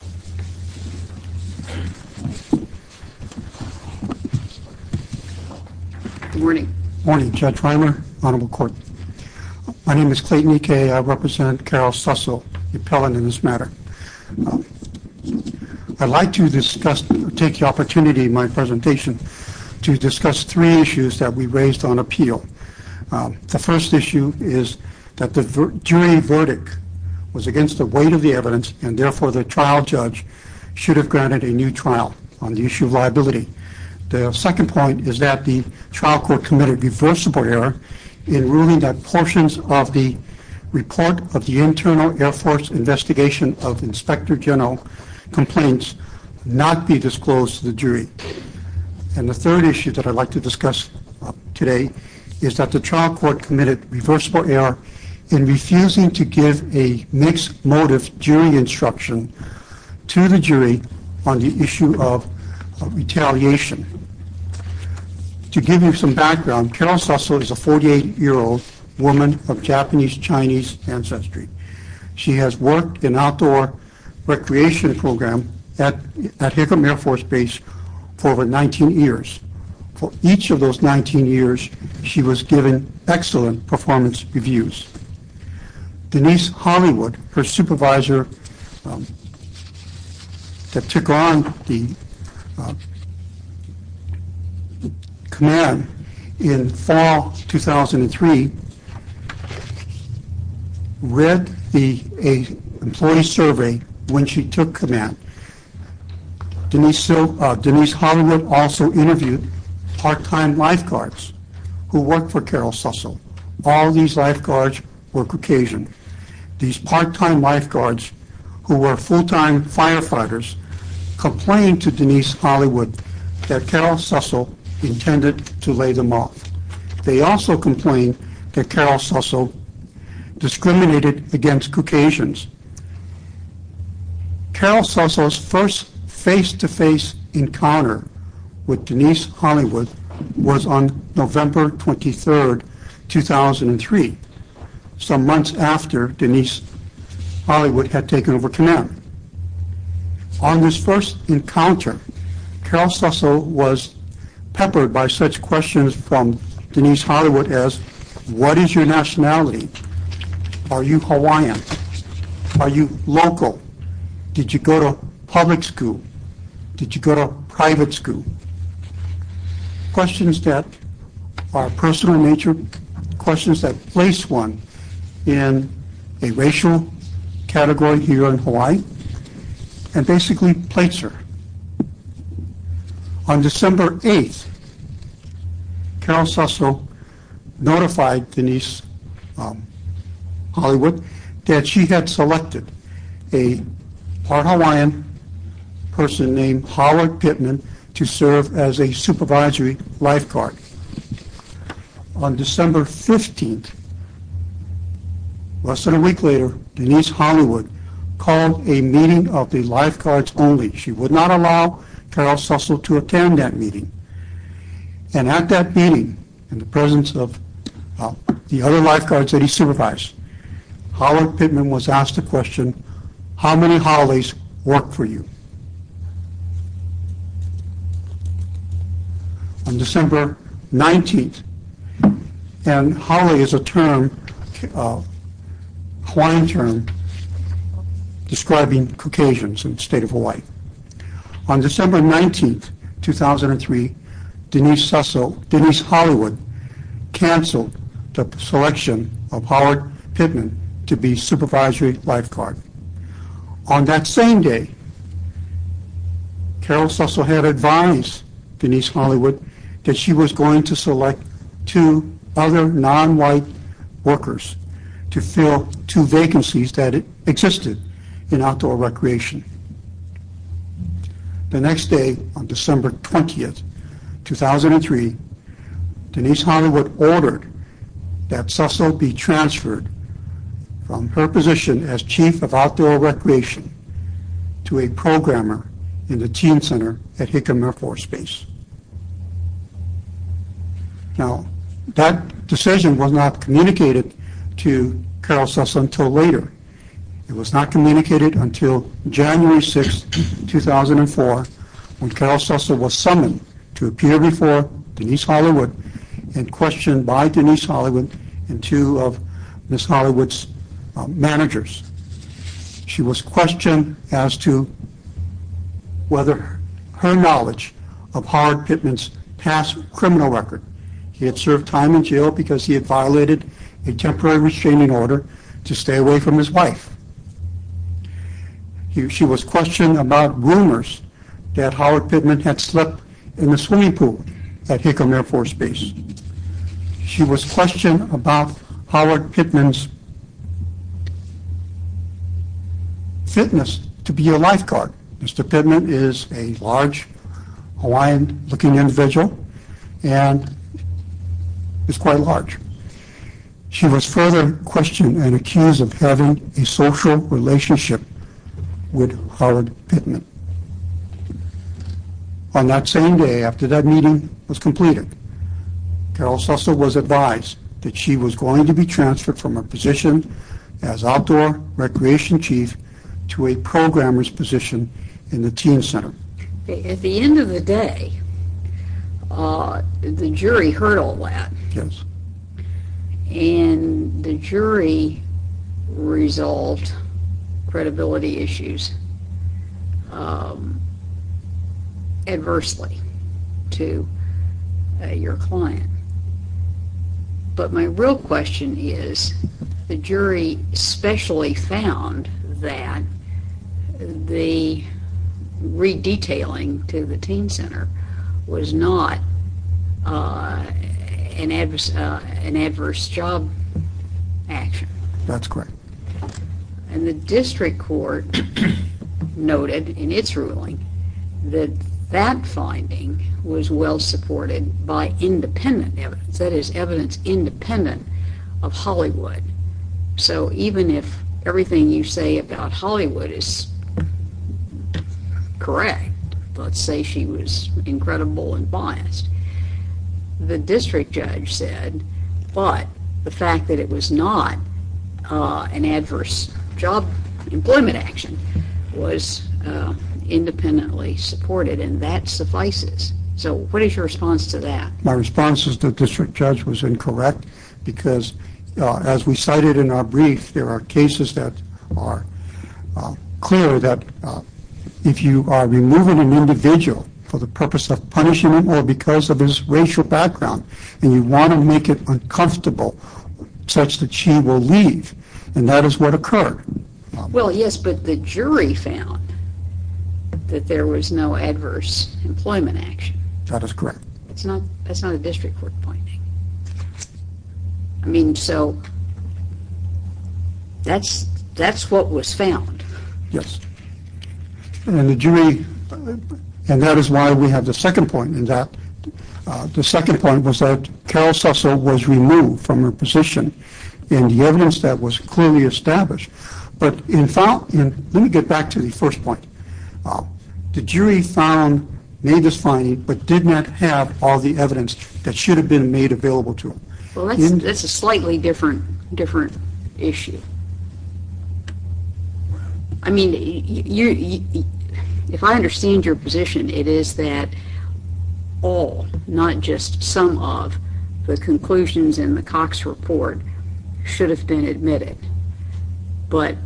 Good morning. Good morning Judge Reimer, Honorable Court. My name is Clayton E. Kaye. I represent Carol Sussel, the appellant in this matter. I'd like to take the opportunity in my presentation to discuss three issues that we raised on appeal. The first issue is that the jury verdict was against the weight of the evidence and therefore the trial judge should have granted a new trial on the issue of liability. The second point is that the trial court committed reversible error in ruling that portions of the report of the internal Air Force investigation of Inspector General complaints not be disclosed to the jury. And the third issue that I'd like to discuss today is that the trial court committed reversible error in refusing to give a mixed motive jury instruction to the jury on the issue of retaliation. To give you some background, Carol Sussel is a 48-year-old woman of Japanese Chinese ancestry. She has worked in outdoor recreation program at Hickam Air Force Base for over 19 years. For each of those 19 years she was given excellent performance reviews. Denise Hollywood, her supervisor that took on the command in fall 2003, she read the employee survey when she took command. Denise Hollywood also interviewed part-time lifeguards who worked for Carol Sussel. All these lifeguards were Caucasian. These part-time lifeguards who were full-time firefighters complained to Denise Hollywood that Carol Sussel intended to lay them off. They also complained that Carol Sussel discriminated against Caucasians. Carol Sussel's first face-to-face encounter with Denise Hollywood was on November 23, 2003, some months after Denise Hollywood had taken over command. On this first encounter, Carol Sussel was peppered by such questions from Denise Hollywood as, what is your nationality? Are you Hawaiian? Are you local? Did you go to public school? Did you go to private school? Questions that are personal in nature, questions that place one in a racial category here in Hawaii and basically plates her. On December 8, Carol Sussel notified Denise Hollywood that she had selected a part-Hawaiian person named Howard Pittman to serve as a supervisory lifeguard. On December 15, less than a week later, Denise Hollywood called a meeting of the lifeguards only. She would not allow Carol Sussel to attend that meeting and at that meeting, in the presence of the other lifeguards that he supervised, Howard Pittman was asked the question, how many Haoles work for you? On December 19, and Haole is a term, a Hawaiian term, describing Caucasians in the state of Hawaii. On December 19, 2003, Denise Hollywood canceled the selection of Howard Pittman to be supervisory lifeguard. On that same day, Carol Sussel had advised Denise Hollywood that she was going to select two other non-white workers to fill two vacancies that existed in outdoor recreation. The next day, on December 20, 2003, Denise Hollywood ordered that Sussel be transferred from her position as chief of outdoor recreation to a programmer in the teen center at Hickam Air Force Base. Now, that decision was not communicated to Carol Sussel until later. It was not communicated until January 6, 2004, when Carol Sussel was summoned to appear before Denise Hollywood and questioned by Denise Hollywood and two of Miss Hollywood's managers. She was questioned as to whether her knowledge of Howard Pittman's past criminal record. He had served time in jail because he had violated a temporary restraining order to stay away from his wife. She was questioned about rumors that Howard Pittman had slept in the swimming pool at Hickam Air Force Base. She was questioned about Howard Pittman's fitness to be a lifeguard. Mr. Pittman is a large Hawaiian-looking individual and is quite large. She was further questioned and accused of having a social relationship with Howard Pittman. On that same day, after that meeting was completed, Carol Sussel was advised that she was going to be transferred from her position as outdoor recreation chief to a programmer's position in the teen center. At the end of the day, the jury heard all that. Yes. And the jury resolved credibility issues adversely to your client. But my real question is, the jury especially found that the re-detailing to the teen center was not an adverse job action. That's correct. And the district court noted in its ruling that that finding was well supported by independent evidence, that is evidence independent of Hollywood. So even if everything you say about her is correct, let's say she was incredible and biased, the district judge said, but the fact that it was not an adverse job employment action was independently supported and that suffices. So what is your response to that? My response is the district judge was incorrect because as we cited in our cases that are clear that if you are removing an individual for the purpose of punishing them or because of his racial background and you want to make it uncomfortable such that she will leave, and that is what occurred. Well yes, but the jury found that there was no adverse employment action. That is correct. That's not a district court finding. I mean so that's what was found. Yes. And the jury, and that is why we have the second point in that. The second point was that Carol Cecil was removed from her position in the evidence that was clearly established. But in fact, let me get back to the first point. The jury found named this finding but did not have all the evidence that should have been made available to them. Well that's a slightly different issue. I mean, if I understand your position, it is that all, not just some of, the conclusions in the Cox report should have been admitted. But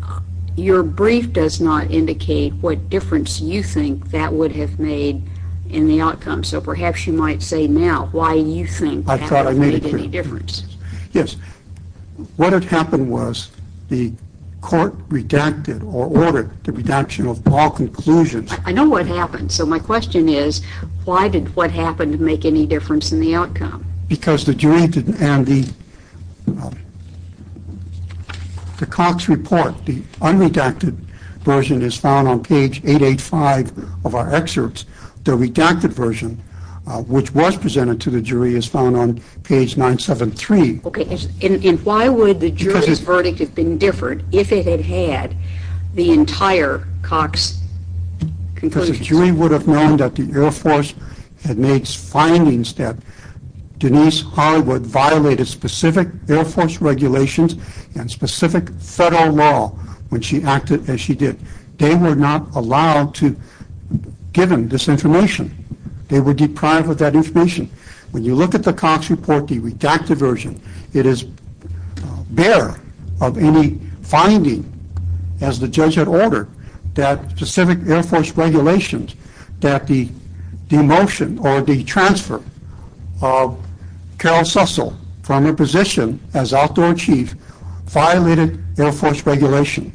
your brief does not indicate what difference you think that would have made in the outcome. So perhaps you might say now why you think I thought I made any difference. Yes, what had happened was the court redacted or ordered the redaction of all conclusions. I know what happened. So my question is why did what happened make any difference in the outcome? Because the jury didn't and the Cox report, the unredacted version is found on page 885 of our excerpts. The redacted version which was presented to the jury is found on page 973. Okay, and why would the jury's verdict have been different if it had had the entire Cox conclusion? Because the jury would have known that the Air Force had made findings that Denise Harwood violated specific Air Force regulations and specific federal law when she acted as she did. They were not allowed to give them this information. They were deprived of that information. When you look at the Cox report, the redacted version, it is bare of any finding as the judge had ordered that specific Air Force regulations that the demotion or the transfer of Carol Sussel from her position as Outdoor Chief violated Air Force regulation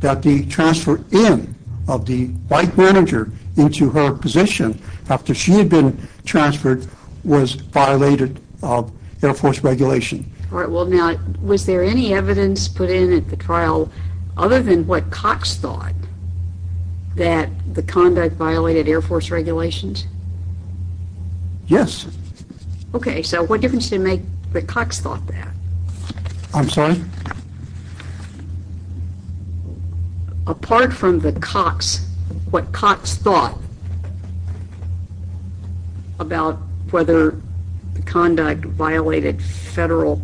that the transfer in of the flight manager into her position after she had been transferred was violated of Air Force regulation. All right, well now was there any evidence put in at the trial other than what Cox thought that the conduct violated Air Force regulations? Yes. Okay, so what difference did it make that Cox thought that? I'm sorry? Apart from the Cox, what Cox thought about whether the conduct violated federal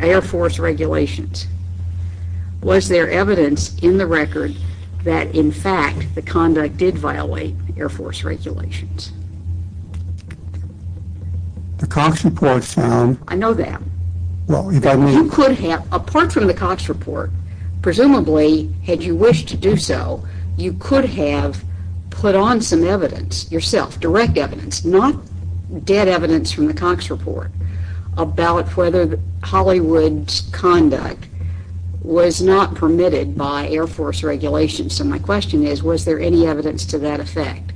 Air Force regulations, was there evidence in the record that in fact the conduct did violate Air Force regulations? The Cox report found... I know that. You could have, apart from the Cox report, presumably had you wished to do so, you could have put on some evidence yourself, direct evidence, not dead evidence from the Cox report, about whether Hollywood's conduct was not permitted by Air Force regulations. So my question is, was there any evidence to that effect?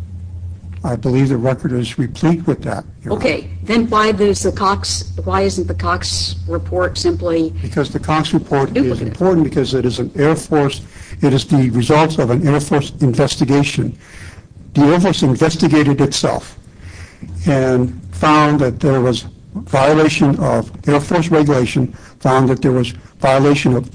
I believe the record is replete with that. Okay, then why isn't the Cox report simply duplicative? Because the Cox report is important because it is an Air Force, it is the results of an Air Force investigation. The Air Force investigated itself and found that there was violation of Air Force regulation, found that there was violation of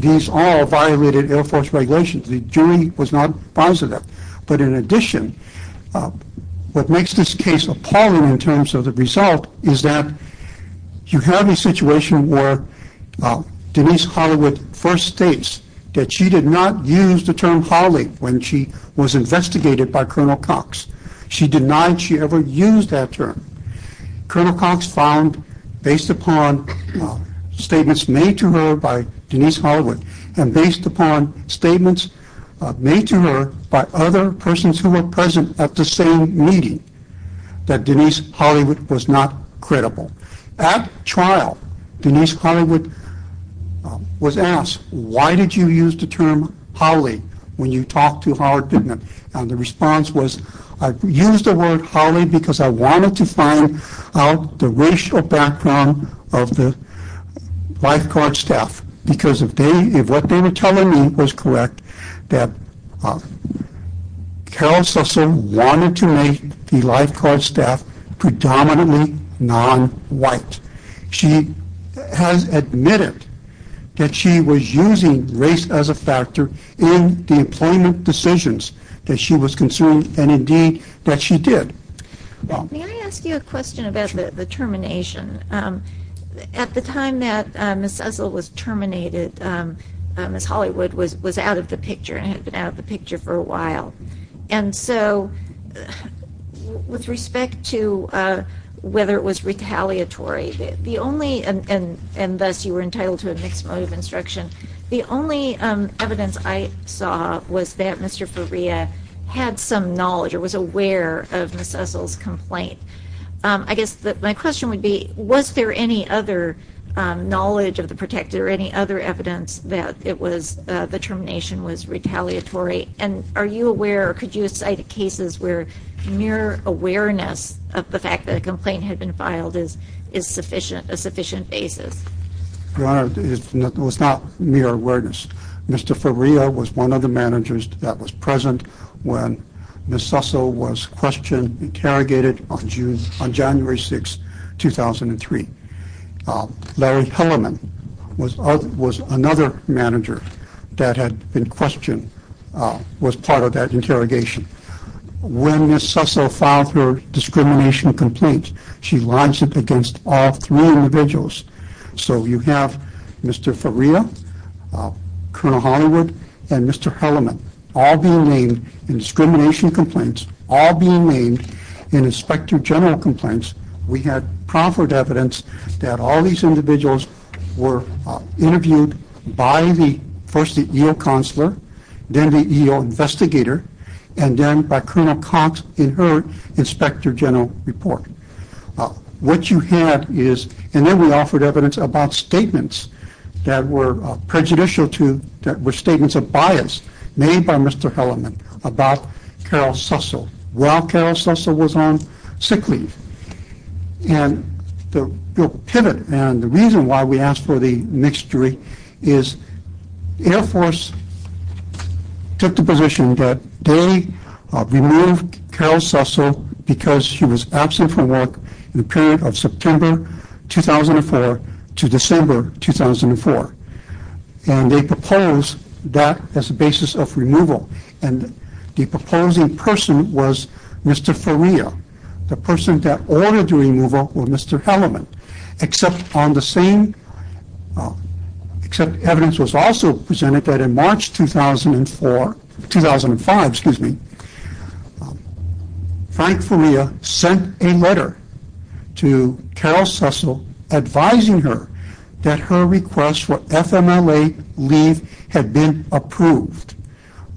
these all violated Air Force regulations. The jury was not positive, but in addition, what makes this case appalling in terms of the result is that you have a situation where Denise Hollywood first states that she did not use the term Holly when she was investigated by Colonel Cox. She denied she ever used that term. Colonel Cox found, based upon statements made to her by Denise Hollywood, and based upon statements made to her by other persons who were present at the same meeting, that Denise Hollywood was not credible. At trial, Denise Hollywood was asked, why did you use the term Holly when you talked to Howard Bittman? And the response was, I used the word Holly because I wanted to find out the racial background of the lifeguard staff. Because if what they were telling me was correct, that Carol Susser wanted to make the lifeguard staff predominantly non-white. She has admitted that she was using race as a factor in the employment decisions that she was concerned, and indeed, that she did. May I ask you a question about the termination? At the time that Ms. Susser was terminated, Ms. Hollywood was out of the picture and had been out of the picture for a while. And so, with respect to whether it was retaliatory, the only, and thus you were entitled to a mixed mode of instruction, the only evidence I saw was that Mr. Faria had some knowledge or was aware of Ms. Susser's complaint. I guess my question would be, was there any other knowledge of the protector, any other evidence that it was, the termination was retaliatory? And are you aware, or could you cite cases where mere awareness of the fact that a complaint had been filed is sufficient, a sufficient basis? Your Honor, it was not mere awareness. Mr. Faria was one of the managers that was present when Ms. Susser was questioned, interrogated on January 6, 2003. Larry Hellerman was another manager that had been questioned, was part of that interrogation. When Ms. Susser filed her discrimination complaint, she lines it against all three individuals. So, you have Mr. Faria, Colonel Hollywood, and Mr. Hellerman, all being named in discrimination complaints, all being named in Inspector General complaints. We had proper evidence that all these individuals were interviewed by the, first the EO Counselor, then the EO Investigator, and then by Colonel Cox in her Inspector General report. What you had is, and then we offered evidence about statements that were prejudicial to, that were statements of bias made by Mr. Hellerman about Carol Susser while Carol Susser was on sick leave. And the pivot, and the reason why we asked for the Carol Susser, because she was absent from work in the period of September 2004 to December 2004. And they proposed that as a basis of removal, and the proposing person was Mr. Faria. The person that ordered the removal was Mr. Hellerman, except on the same, except evidence was also presented that in March 2004, 2005, excuse me, Frank Faria sent a letter to Carol Susser advising her that her request for FMLA leave had been approved,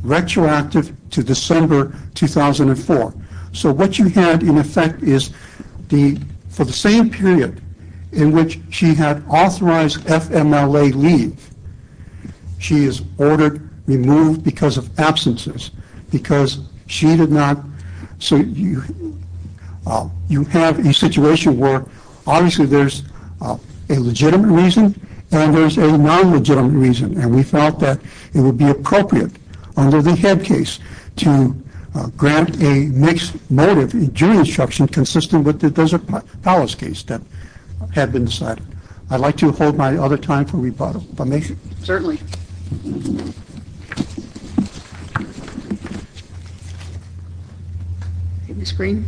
retroactive to December 2004. So, what you had in effect is the, for the same period in which she had authorized FMLA leave, she is ordered removed because of absences, because she did not, so you have a situation where obviously there's a legitimate reason and there's a non-legitimate reason, and we felt that it would be appropriate under the Head Case to grant a mixed motive jury instruction consistent with the Desert Palace case that had been decided. I'd like to hold my other time for rebuttal. If I may? Certainly. Ms. Green.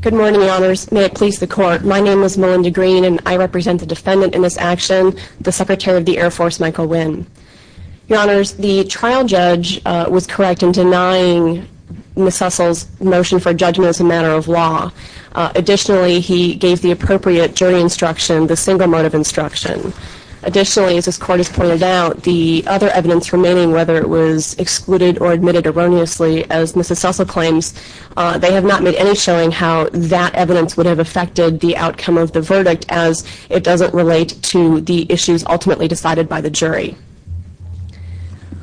Good morning, Your Honors. May it please the Court. My name is Melinda Green, and I represent the defendant in this action, the Secretary of the Air Force, Michael Winn. Your Honors, the trial judge was correct in denying Ms. Sussel's motion for judgment as a matter of law. Additionally, he gave the appropriate jury instruction, the single motive instruction. Additionally, as this Court has pointed out, the other evidence remaining, whether it was excluded or admitted erroneously, as Ms. Sussel claims, they have not made any showing how that evidence would have affected the outcome of the verdict as it doesn't relate to the issues ultimately decided by the jury.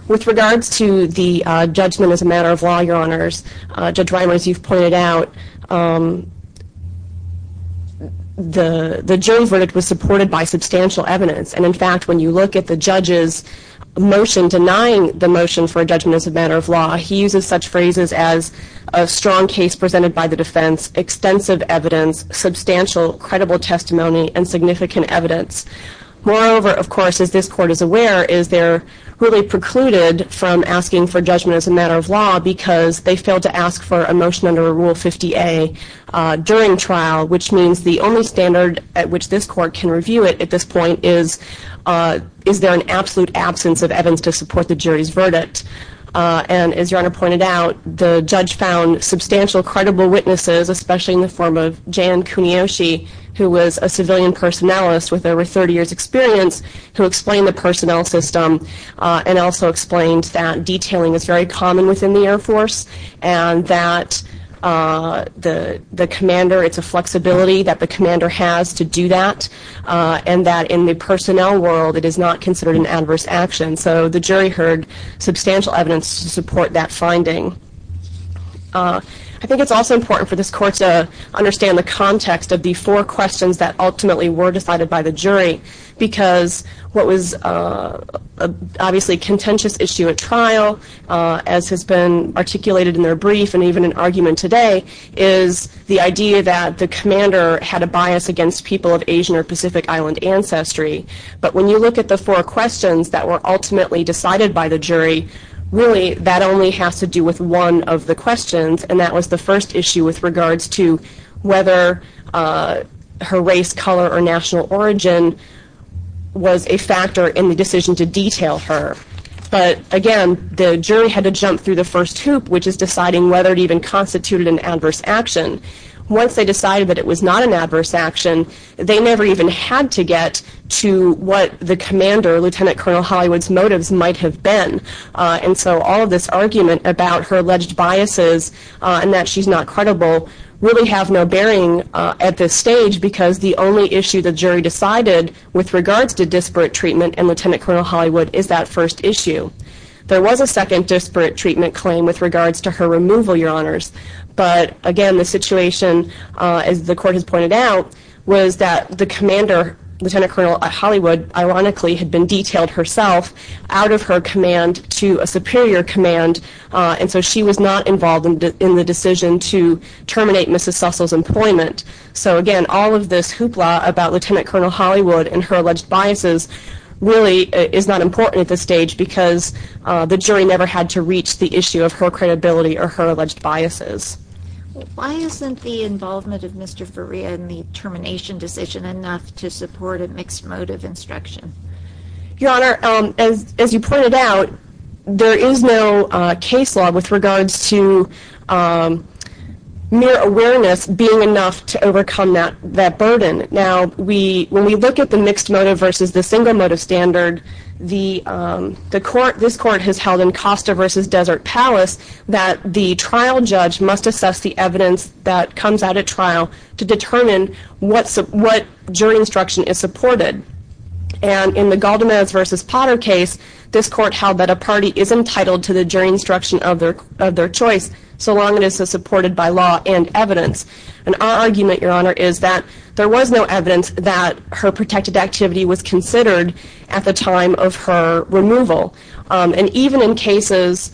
With regards to the judgment as a matter of law, Your Honors, Judge Reimer, as you've pointed out, the jury verdict was supported by substantial evidence, and in fact when you look at the judge's motion denying the motion for a judgment as a matter of law, he uses such phrases as a strong case presented by the defense, extensive evidence, substantial credible testimony, and significant evidence. Moreover, of course, as this Court is aware, is they're really precluded from asking for judgment as a matter of law because they failed to ask for a motion under Rule 50A during trial, which means the only standard at which this Court can review it at this point is there an absolute absence of evidence to support the jury's verdict. And as Your Honor pointed out, the judge found substantial credible witnesses, especially in the form of Jan Kuniyoshi, who was a civilian personnelist with over 30 years experience, who explained the personnel system and also explained that detailing is very common within the Air Force and that the commander, it's a flexibility that the commander has to do that, and that in the personnel world it is not considered an adverse action. So the jury heard substantial evidence to support that finding. I think it's also important for this Court to understand the context of the four questions that ultimately were decided by the jury because what was obviously a contentious issue at trial, as has been articulated in their brief and even in argument today, is the idea that the commander had a bias against people of Asian or Pacific Island ancestry. But when you look at the four questions that were ultimately decided by the jury, really that only has to do with one of the questions, and that was the first issue with regards to whether her race, color, or national origin was a factor in the decision to detail her. But again, the jury had to jump through the first hoop, which is deciding whether it even constituted an adverse action. Once they decided that it was not an adverse action, they never even had to get to what the commander, Lieutenant Colonel Hollywood's motives might have been. And so all of this argument about her alleged biases and that she's not credible really have no bearing at this stage because the only issue the jury decided with regards to Lieutenant Colonel Hollywood is that first issue. There was a second disparate treatment claim with regards to her removal, your honors, but again the situation, as the court has pointed out, was that the commander, Lieutenant Colonel Hollywood, ironically had been detailed herself out of her command to a superior command, and so she was not involved in the decision to terminate Mrs. Sussel's employment. So again, all of this hoopla about Lieutenant Colonel Hollywood and her is not important at this stage because the jury never had to reach the issue of her credibility or her alleged biases. Why isn't the involvement of Mr. Faria in the termination decision enough to support a mixed motive instruction? Your honor, as you pointed out, there is no case law with regards to mere awareness being enough to overcome that burden. Now, when we look at the mixed motive versus the single motive standard, this court has held in Costa versus Desert Palace that the trial judge must assess the evidence that comes out at trial to determine what jury instruction is supported, and in the Galdamez versus Potter case, this court held that a party is entitled to the jury instruction of their choice so long it is supported by law and evidence, and our argument, your honor, is that there was no evidence that her protected activity was considered at the time of her removal, and even in cases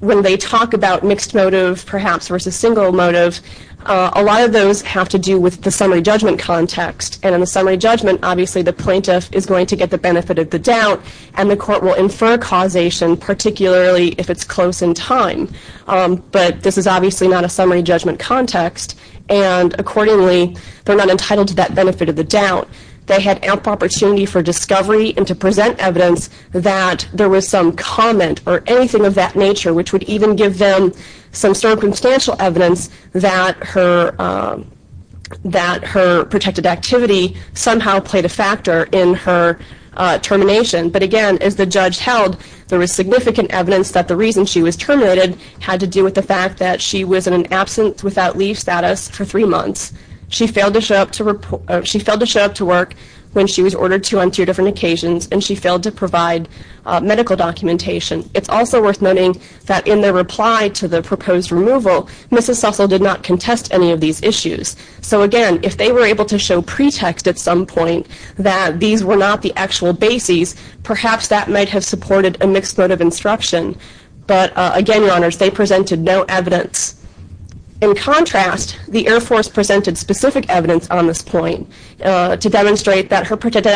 when they talk about mixed motive perhaps versus single motive, a lot of those have to do with the summary judgment context, and in the summary judgment, obviously the plaintiff is going to get the benefit of the doubt and the court will infer causation, particularly if it's close in time, but this is obviously not a summary judgment context, and accordingly, they're not entitled to that benefit of the doubt. They had ample opportunity for discovery and to present evidence that there was some comment or anything of that nature, which would even give them some circumstantial evidence that her protected activity somehow played a factor in her termination, but again, as the judge held, there was significant evidence that the reason she was terminated had to do with the fact that she was in an absence without leave status for three months. She failed to show up to work when she was ordered to on two different occasions, and she failed to provide medical documentation. It's also worth noting that in their reply to the proposed removal, Mrs. Sussell did not contest any of these issues, so again, if they were able to show pretext at some point that these were not the actual bases, perhaps that might have supported a mixed motive instruction, but again, your honors, they presented no evidence. In contrast, the Air Force presented specific evidence on this point to demonstrate that her protected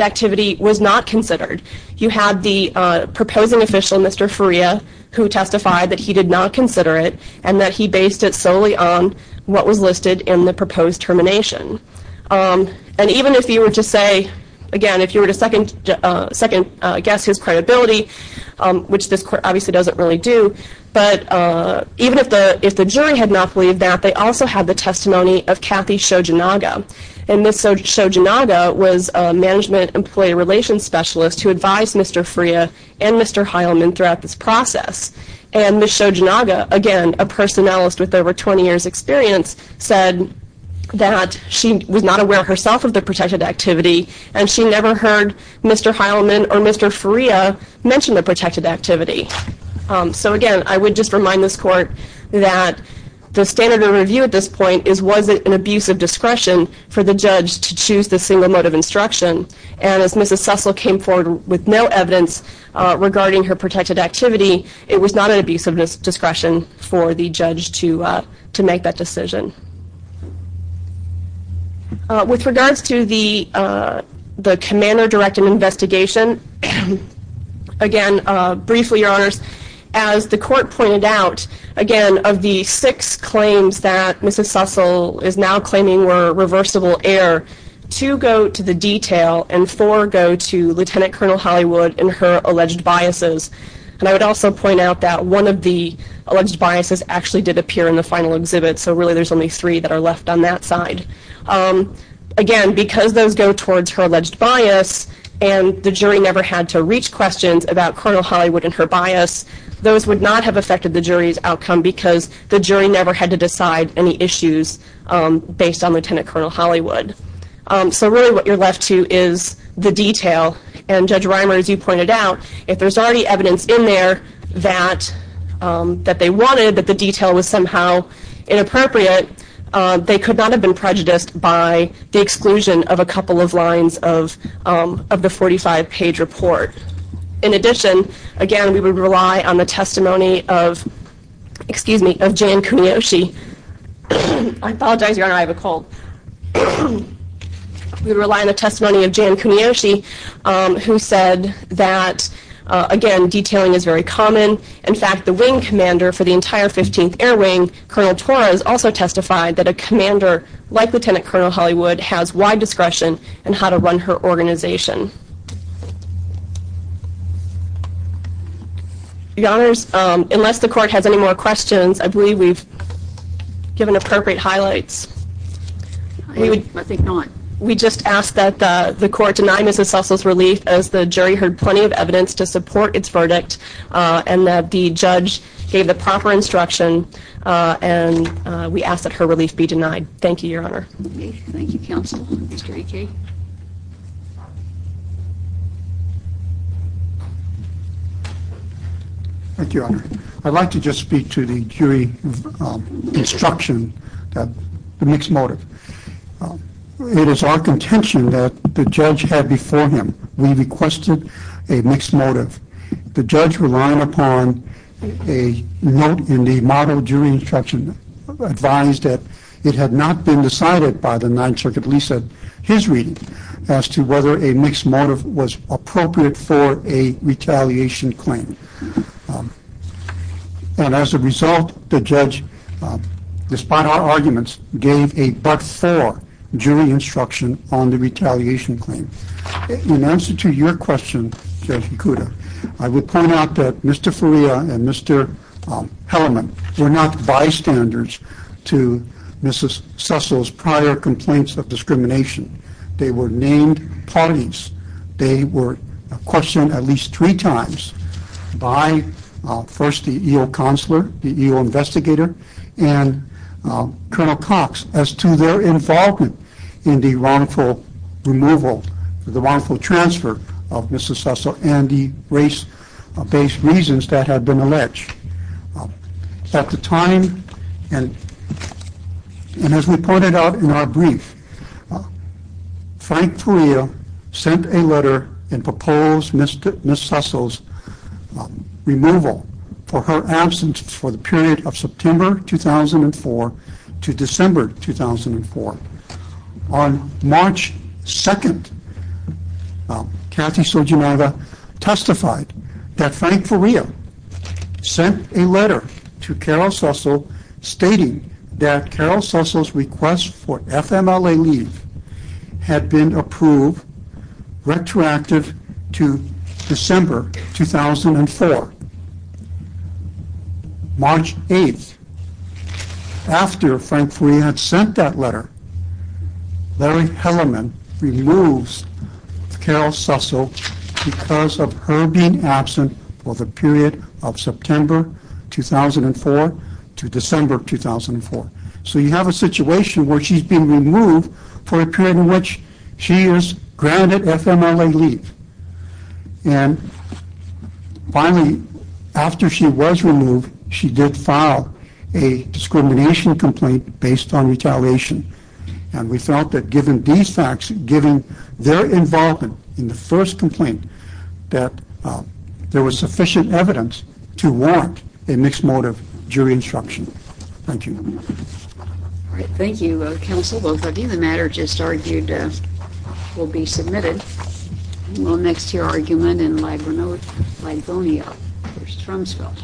activity was not considered. You had the proposing official, Mr. Faria, who testified that he did not consider it and that he based it solely on what was listed in the proposed termination, and even if you were to say, again, if you were to second guess his credibility, which this court obviously doesn't really do, but even if the jury had not believed that, they also had the testimony of Kathy Shojinaga, and Ms. Shojinaga was a management employee relations specialist who advised Mr. Faria and Mr. Heilman throughout this process, and Ms. Shojinaga, again, a personnelist with over 20 years experience, said that she was not aware herself of the protected activity, and she never heard Mr. Heilman or Mr. Faria mention the protected activity, so again, I would just remind this court that the standard of review at this point is, was it an abuse of discretion for the judge to choose the single motive instruction, and as Mrs. Sussell came forward with no evidence regarding her abuse of discretion, she did not make that decision. With regards to the commander directive investigation, again, briefly, your honors, as the court pointed out, again, of the six claims that Mrs. Sussell is now claiming were reversible error, two go to the detail and four go to Lieutenant Colonel Hollywood and her alleged biases, and I would also point out that one of the alleged biases actually did appear in the final exhibit, so really there's only three that are left on that side. Again, because those go towards her alleged bias, and the jury never had to reach questions about Colonel Hollywood and her bias, those would not have affected the jury's outcome because the jury never had to decide any issues based on Lieutenant Colonel Hollywood. So really what you're left to is the detail, and Judge Reimer, as you that they wanted, that the detail was somehow inappropriate, they could not have been prejudiced by the exclusion of a couple of lines of the 45-page report. In addition, again, we would rely on the testimony of, excuse me, of Jan Kuniyoshi. I apologize, your honor, I have a cold. We rely on the testimony of Jan Kuniyoshi, who said that, again, detailing is very common. In fact, the wing commander for the entire 15th Air Wing, Colonel Torres, also testified that a commander like Lieutenant Colonel Hollywood has wide discretion in how to run her organization. Your honors, unless the court has any more questions, I believe we've given appropriate highlights. I think not. We just asked that the court deny Mrs. Sussel's relief, as the jury heard plenty of evidence to support its verdict, and that the judge gave the proper instruction, and we ask that her relief be denied. Thank you, your honor. Thank you, counsel. Thank you, your honor. I'd like to just speak to the jury instruction, the mixed motive. It is our contention that the judge had before him, we requested a mixed motive. The judge, relying upon a note in the model jury instruction, advised that it had not been decided by the Ninth Circuit, at least at his reading, as to whether a mixed motive was appropriate for a retaliation claim. And as a result, the judge, despite our arguments, gave a but-for jury instruction on the retaliation claim. In answer to your question, Judge Ikuda, I would point out that Mr. Faria and Mr. Hellerman were not bystanders to Mrs. Sussel's prior complaints of discrimination. They were named parties. They were questioned at least three times, by first the EO counselor, the EO investigator, and Colonel Cox, as to their involvement in the wrongful removal, the wrongful transfer of Mrs. Sussel, and the race-based reasons that had been alleged. At the time, and as we pointed out in our brief, Frank Faria sent a letter and proposed Mrs. Sussel's removal for her absence for the period of September 2004 to December 2004. On March 2nd, Kathy Sojumaga testified that Frank Faria sent a letter to Carol Sussel stating that Carol Sussel's request for FMLA leave had been approved retroactive to December 2004. March 8th, after Frank Faria had sent that letter, Larry Hellerman removes Carol Sussel because of her being absent for the period of September 2004 to December 2004. So you have a situation where she's being removed for a period in which she is granted FMLA leave. And finally, after she was removed, there was a second complaint based on retaliation, and we felt that given these facts, given their involvement in the first complaint, that there was sufficient evidence to warrant a mixed-motive jury instruction. Thank you. All right, thank you, counsel. Both of you. The matter just argued will be submitted. We'll next to your argument in Livonia versus Trumsville.